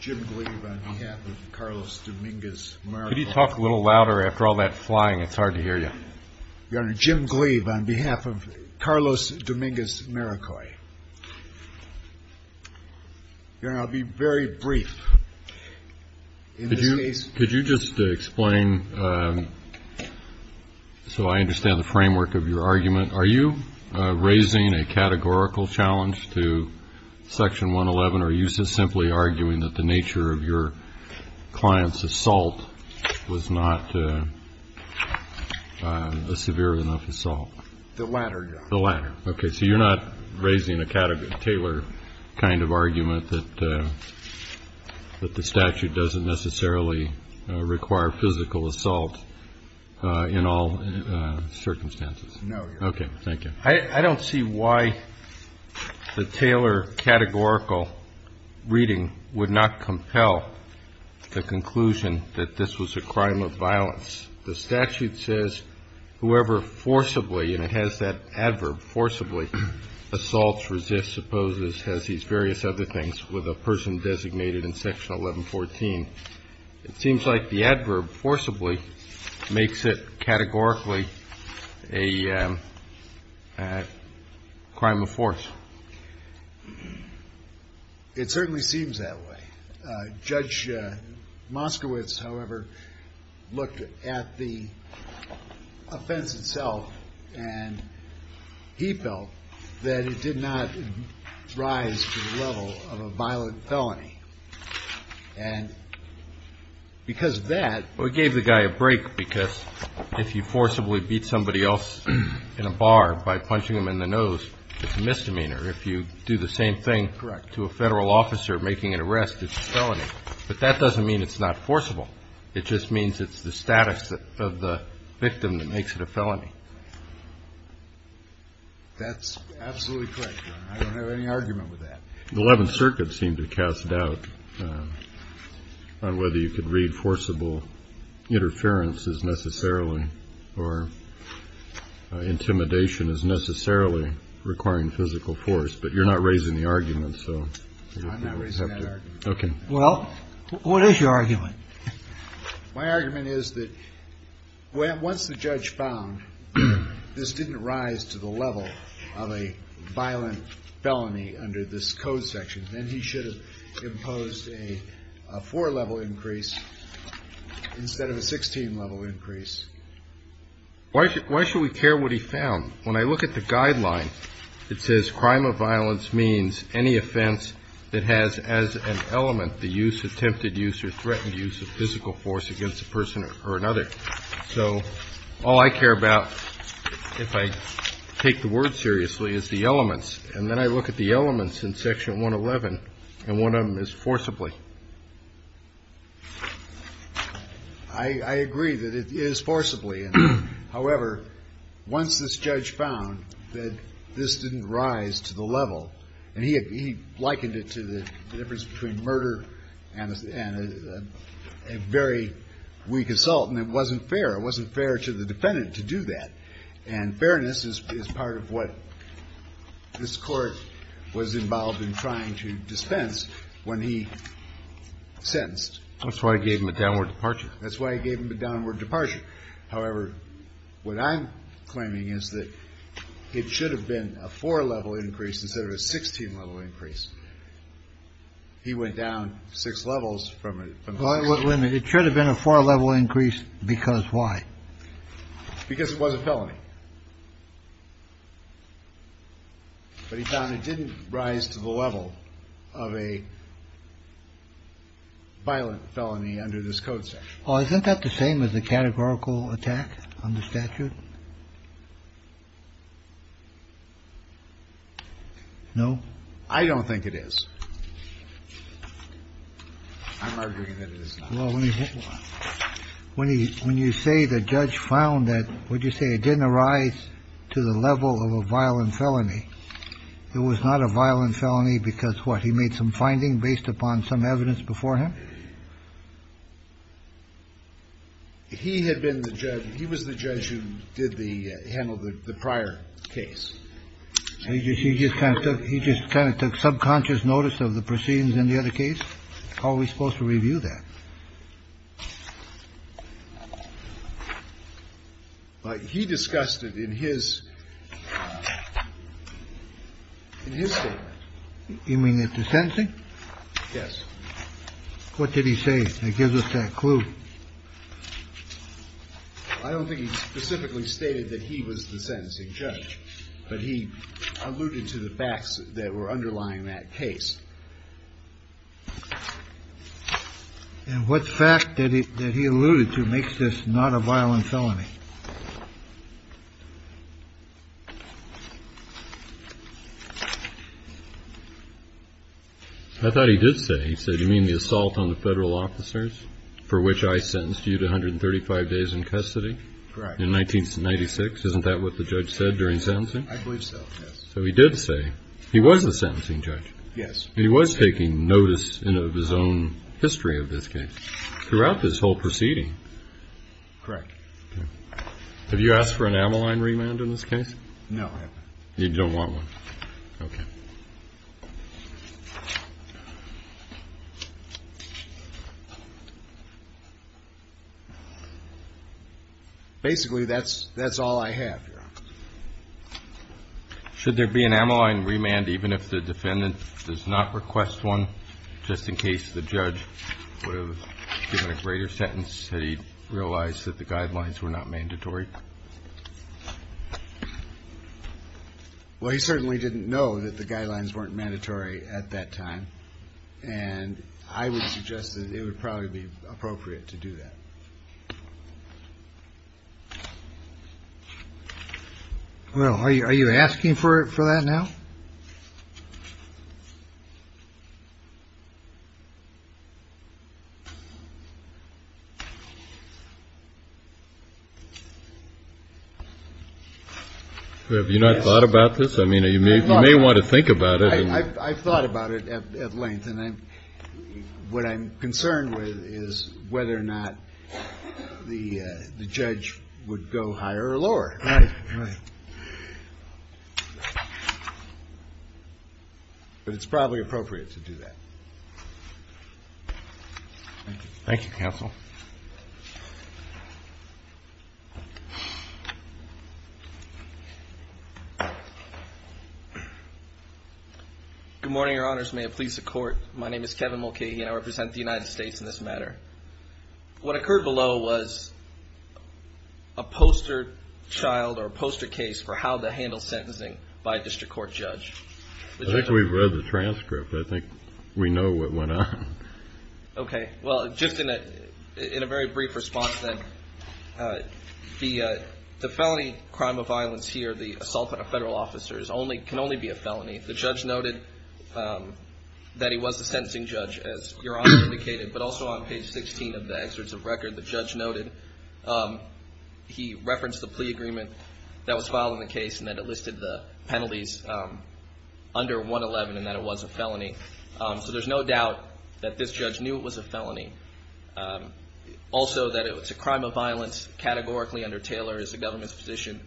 Jim Gleave on behalf of Carlos Dominguez-Maroyoi, Your Honor, I'll be very brief in this case. Could you just explain, so I understand the framework of your argument, are you raising a categorical challenge to Section 111, or are you simply arguing that the nature of your client's assault was not a severe enough assault? The latter, Your Honor. The latter, okay, so you're not raising a Taylor kind of argument that the statute doesn't necessarily require physical assault in all circumstances? No, Your Honor. Okay, thank you. I don't see why the Taylor categorical reading would not compel the conclusion that this was a crime of violence. The statute says whoever forcibly, and it has that adverb, forcibly, assaults, resists, opposes, has these various other things with a person designated in Section 1114. It seems like the adverb forcibly makes it categorically a crime of force. It certainly seems that way. Judge Moskowitz, however, looked at the offense itself, and he felt that it did not rise to the level of a violent felony. And because of that... Well, it gave the guy a break, because if you forcibly beat somebody else in a bar by punching them in the nose, it's a misdemeanor. If you do the same thing to a federal officer making an arrest, it's a felony. But that doesn't mean it's not forcible. It just means it's the status of the victim that makes it a felony. That's absolutely correct, Your Honor. I don't have any argument with that. The Eleventh Circuit seemed to cast doubt on whether you could read forcible interference as necessarily, or intimidation as necessarily requiring physical force. But you're not raising the argument, so... I'm not raising that argument. Okay. Well, what is your argument? My argument is that once the judge found this didn't rise to the level of a violent felony under this code section, then he should have imposed a four-level increase instead of a 16-level increase. Why should we care what he found? When I look at the guideline, it says crime of violence means any offense that has as an element the use, attempted use, or threatened use of physical force against a person or another. So all I care about, if I take the word seriously, is the elements. And then I look at the elements in Section 111, and one of them is forcibly. I agree that it is forcibly. However, once this judge found that this didn't rise to the level, and he likened it to the difference between murder and a very weak assault, and it wasn't fair. It wasn't fair to the defendant to do that. And fairness is part of what this Court was involved in trying to dispense when he sentenced. That's why he gave him a downward departure. That's why he gave him a downward departure. However, what I'm claiming is that it should have been a four-level increase instead of a 16-level increase. He went down six levels from a 16-level increase. It should have been a four-level increase because why? Because it was a felony. But he found it didn't rise to the level of a violent felony under this Code section. Well, isn't that the same as a categorical attack on the statute? No. I don't think it is. I'm arguing that it is not. Well, when you say the judge found that, would you say it didn't arise to the level of a violent felony? It was not a violent felony because what? He made some finding based upon some evidence before him? He had been the judge. He was the judge who did the handle the prior case. He just kind of took subconscious notice of the proceedings in the other case. How are we supposed to review that? He discussed it in his statement. You mean at the sentencing? Yes. What did he say that gives us that clue? I don't think he specifically stated that he was the sentencing judge, but he alluded to the facts that were underlying that case. And what fact did he allude to makes this not a violent felony? I thought he did say, he said, you mean the assault on the federal officers for which I sentenced you to 135 days in custody in 1996? Isn't that what the judge said during sentencing? I believe so. So he did say he was the sentencing judge. Yes. And he was taking notice of his own history of this case throughout this whole proceeding? Correct. Have you asked for an Ammaline remand in this case? No. You don't want one? Okay. Basically, that's all I have, Your Honor. Should there be an Ammaline remand even if the defendant does not request one, just in case the judge would have given a greater sentence had he realized that the guidelines were not mandatory? Well, he certainly didn't know that the guidelines weren't mandatory at that time, and I would suggest that it would probably be appropriate to do that. Well, are you are you asking for it for that now? Have you not thought about this? I mean, you may want to think about it. I've thought about it at length, and what I'm concerned with is whether or not the judge would go higher or lower. Right, right. But it's probably appropriate to do that. Thank you, counsel. Good morning, Your Honors. May it please the Court. My name is Kevin Mulcahy, and I represent the United States in this matter. What occurred below was a poster child or a poster case for how to handle sentencing by a district court judge. I think we've read the transcript. I think we know what went on. Okay, well, just in a very brief response then, the felony crime of violence here, the assault on a federal officer, can only be a felony. The judge noted that he was a sentencing judge, as Your Honor indicated, but also on page 16 of the excerpts of record, the judge noted he referenced the plea agreement that was filed in the case and that it listed the penalties under 111 and that it was a felony. So there's no doubt that this judge knew it was a felony. Also, that it's a crime of violence categorically under Taylor is the government's position.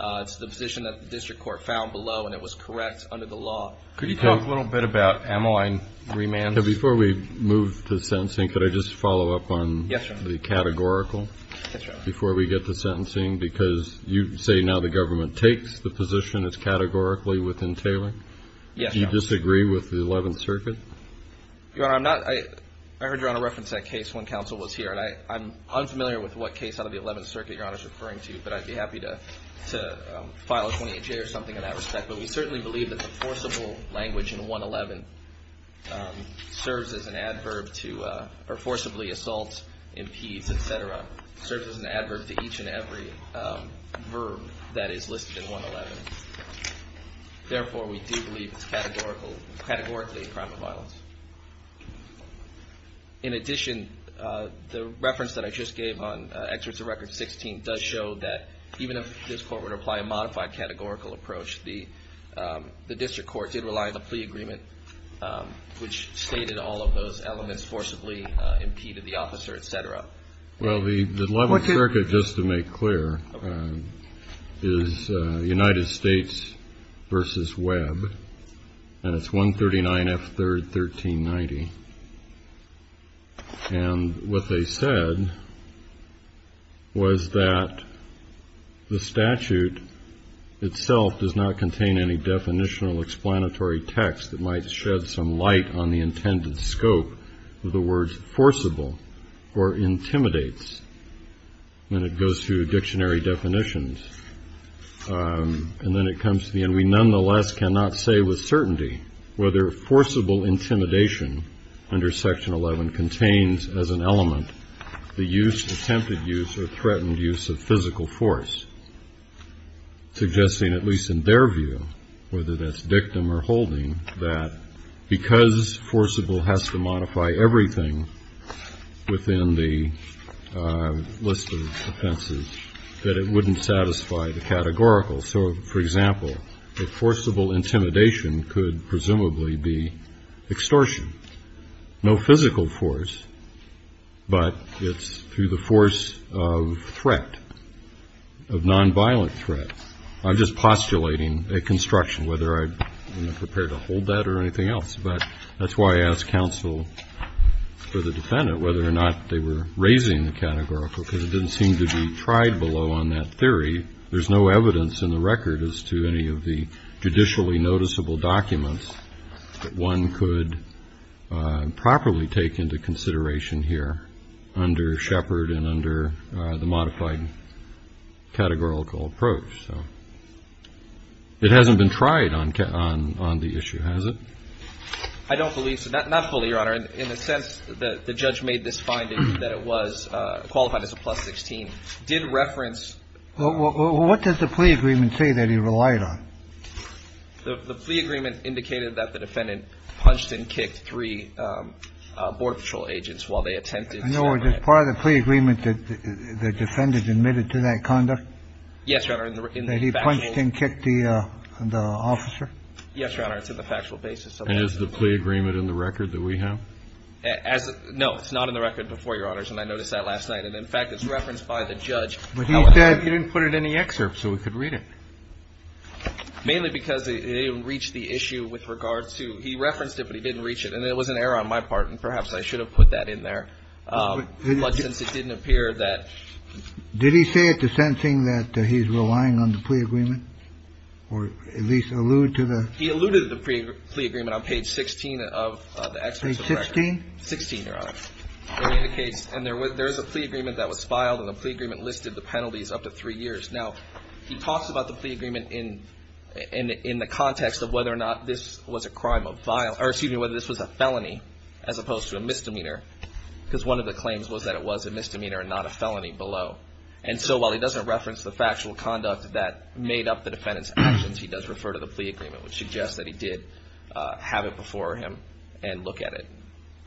It's the position that the district court found below, and it was correct under the law. Could you talk a little bit about ammoing remands? Now, before we move to sentencing, could I just follow up on the categorical before we get to sentencing? Because you say now the government takes the position as categorically within Taylor? Yes, Your Honor. Do you disagree with the Eleventh Circuit? Your Honor, I'm not, I heard Your Honor reference that case when counsel was here, and I'm unfamiliar with what case out of the Eleventh Circuit Your Honor is referring to, but I'd be happy to file a 28-J or something in that respect. But we certainly believe that the forcible language in 111 serves as an adverb to, or forcibly assaults, impedes, etc., serves as an adverb to each and every verb that is listed in 111. Therefore, we do believe it's categorically a crime of violence. In addition, the reference that I just gave on Excerpts of Record 16 does show that even if this court were to apply a modified categorical approach, the district court did rely on the plea agreement, which stated all of those elements forcibly impeded the officer, etc. Well, the Eleventh Circuit, just to make clear, is United States v. Webb, and it's 139 F. 3rd. 1390. And what they said was that the statute itself does not contain any definitional explanatory text that might shed some light on the intended scope of the words forcible or intimidates when it goes through dictionary definitions. And then it comes to the end, we nonetheless cannot say with certainty whether forcible intimidation under Section 11 contains as an element the use, attempted use, or threatened use of physical force, suggesting, at least in their view, whether that's dictum or holding, that because forcible has to modify everything within the list of offenses, that it wouldn't satisfy the statute. So, for example, if forcible intimidation could presumably be extortion, no physical force, but it's through the force of threat, of nonviolent threat, I'm just postulating a construction, whether I'm prepared to hold that or anything else. But that's why I asked counsel for the defendant whether or not they were raising the categorical, because it didn't seem to be tried below on that theory. There's no evidence in the record as to any of the judicially noticeable documents that one could properly take into consideration here under Shepard and under the modified categorical approach. So it hasn't been tried on the issue, has it? I don't believe so. Not fully, Your Honor. In a sense, the judge made this finding that it was qualified as a plus 16, did reference. Well, what does the plea agreement say that he relied on? The plea agreement indicated that the defendant punched and kicked three Border Patrol agents while they attempted. No, it is part of the plea agreement that the defendant admitted to that conduct. Yes, Your Honor. That he punched and kicked the officer? Yes, Your Honor. It's in the factual basis. And is the plea agreement in the record that we have? No, it's not in the record before, Your Honors. And I noticed that last night. And in fact, it's referenced by the judge. But he said he didn't put it in the excerpt so we could read it. Mainly because it didn't reach the issue with regards to he referenced it, but he didn't reach it. And it was an error on my part. And perhaps I should have put that in there. But since it didn't appear that. Did he say at the sentencing that he's relying on the plea agreement? Or at least allude to the. He alluded to the plea agreement on page 16 of the excerpt. Page 16? 16, Your Honor. It indicates. And there is a plea agreement that was filed. And the plea agreement listed the penalties up to three years. Now, he talks about the plea agreement in the context of whether or not this was a crime of violence. Or excuse me, whether this was a felony as opposed to a misdemeanor. Because one of the claims was that it was a misdemeanor and not a felony below. And so while he doesn't reference the factual conduct that made up the defendant's actions, he does refer to the plea agreement, which suggests that he did have it before him and look at it.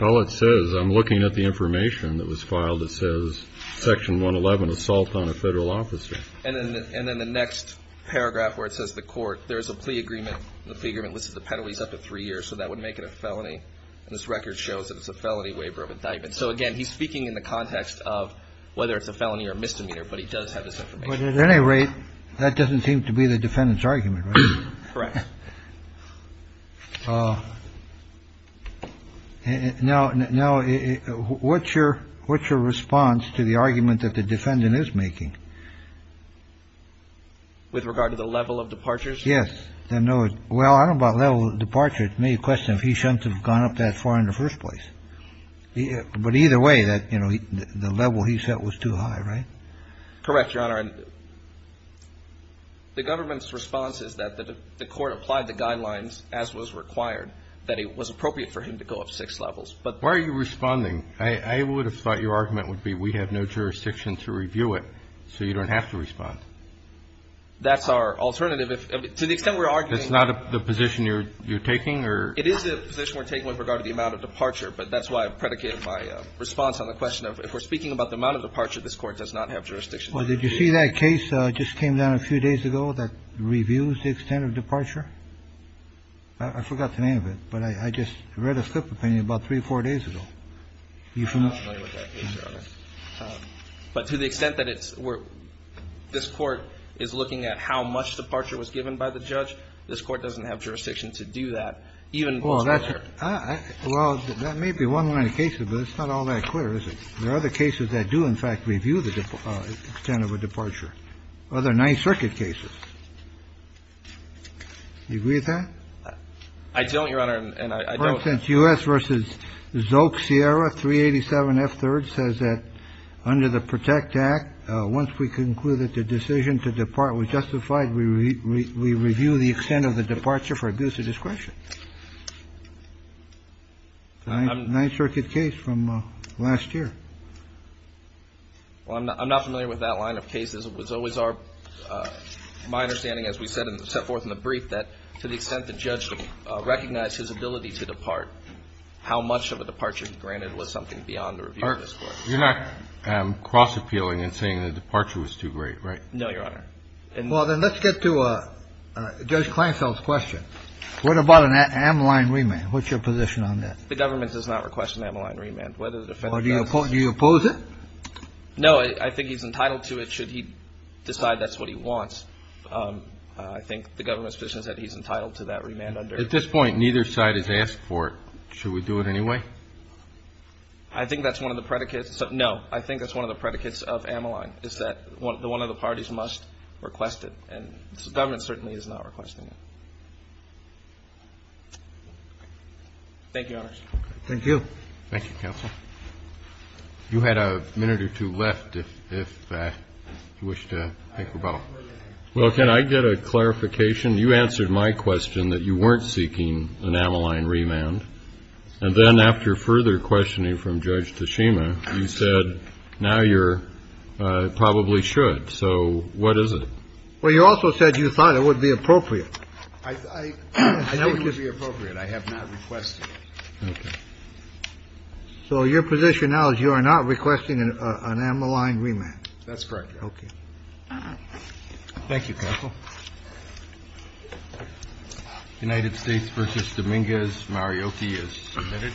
All it says, I'm looking at the information that was filed. It says section 111, assault on a federal officer. And then the next paragraph where it says the court. There is a plea agreement. The plea agreement listed the penalties up to three years. So that would make it a felony. And this record shows that it's a felony waiver of indictment. So, again, he's speaking in the context of whether it's a felony or misdemeanor. But he does have this information. But at any rate, that doesn't seem to be the defendant's argument, right? Correct. Now, what's your response to the argument that the defendant is making? With regard to the level of departures? Yes. Well, I don't know about level of departure. It's me questioning if he shouldn't have gone up that far in the first place. But either way, that, you know, the level he set was too high, right? Correct, Your Honor. The government's response is that the court applied the guidelines as was required, that it was appropriate for him to go up six levels. But why are you responding? I would have thought your argument would be we have no jurisdiction to review it, so you don't have to respond. That's our alternative. To the extent we're arguing It's not the position you're taking? It is the position we're taking with regard to the amount of departure. But that's why I predicated my response on the question of if we're speaking about the amount of departure, this Court does not have jurisdiction to review it. Well, did you see that case just came down a few days ago that reviews the extent of departure? I forgot the name of it, but I just read a slip opinion about three or four days ago. I'm not familiar with that case, Your Honor. But to the extent that it's where this Court is looking at how much departure was given by the judge, this Court doesn't have jurisdiction to do that. Well, that may be one line of cases, but it's not all that clear, is it? There are other cases that do, in fact, review the extent of a departure. Other Ninth Circuit cases. Do you agree with that? I don't, Your Honor, and I don't. In essence, U.S. v. Zoke Sierra, 387F3rd, says that under the PROTECT Act, once we conclude that the decision to depart was justified, we review the extent of the departure for abuse of discretion. Ninth Circuit case from last year. Well, I'm not familiar with that line of cases. It was always our – my understanding, as we set forth in the brief, that to the And that's what we're looking for. We're looking for how much of a departure granted was something beyond the review of this Court. You're not cross-appealing in saying the departure was too great, right? No, Your Honor. Well, then let's get to Judge Klainfeld's question. What about an amyline remand? What's your position on that? The government does not request an amyline remand, whether the defendant does. Do you oppose it? No, I think he's entitled to it, should he decide that's what he wants. I think the government's position is that he's entitled to that remand under the At this point, neither side has asked for it. Should we do it anyway? I think that's one of the predicates. No, I think that's one of the predicates of amyline, is that one of the parties must request it. And the government certainly is not requesting it. Thank you, Your Honors. Thank you. Thank you, Counsel. You had a minute or two left if you wish to think about it. Well, can I get a clarification? You answered my question that you weren't seeking an amyline remand. And then after further questioning from Judge Tashima, you said now you're probably should. So what is it? Well, you also said you thought it would be appropriate. I think it would be appropriate. I have not requested it. Okay. So your position now is you are not requesting an amyline remand. That's correct. Okay. Thank you, Counsel. United States versus Dominguez. Marioki is submitted.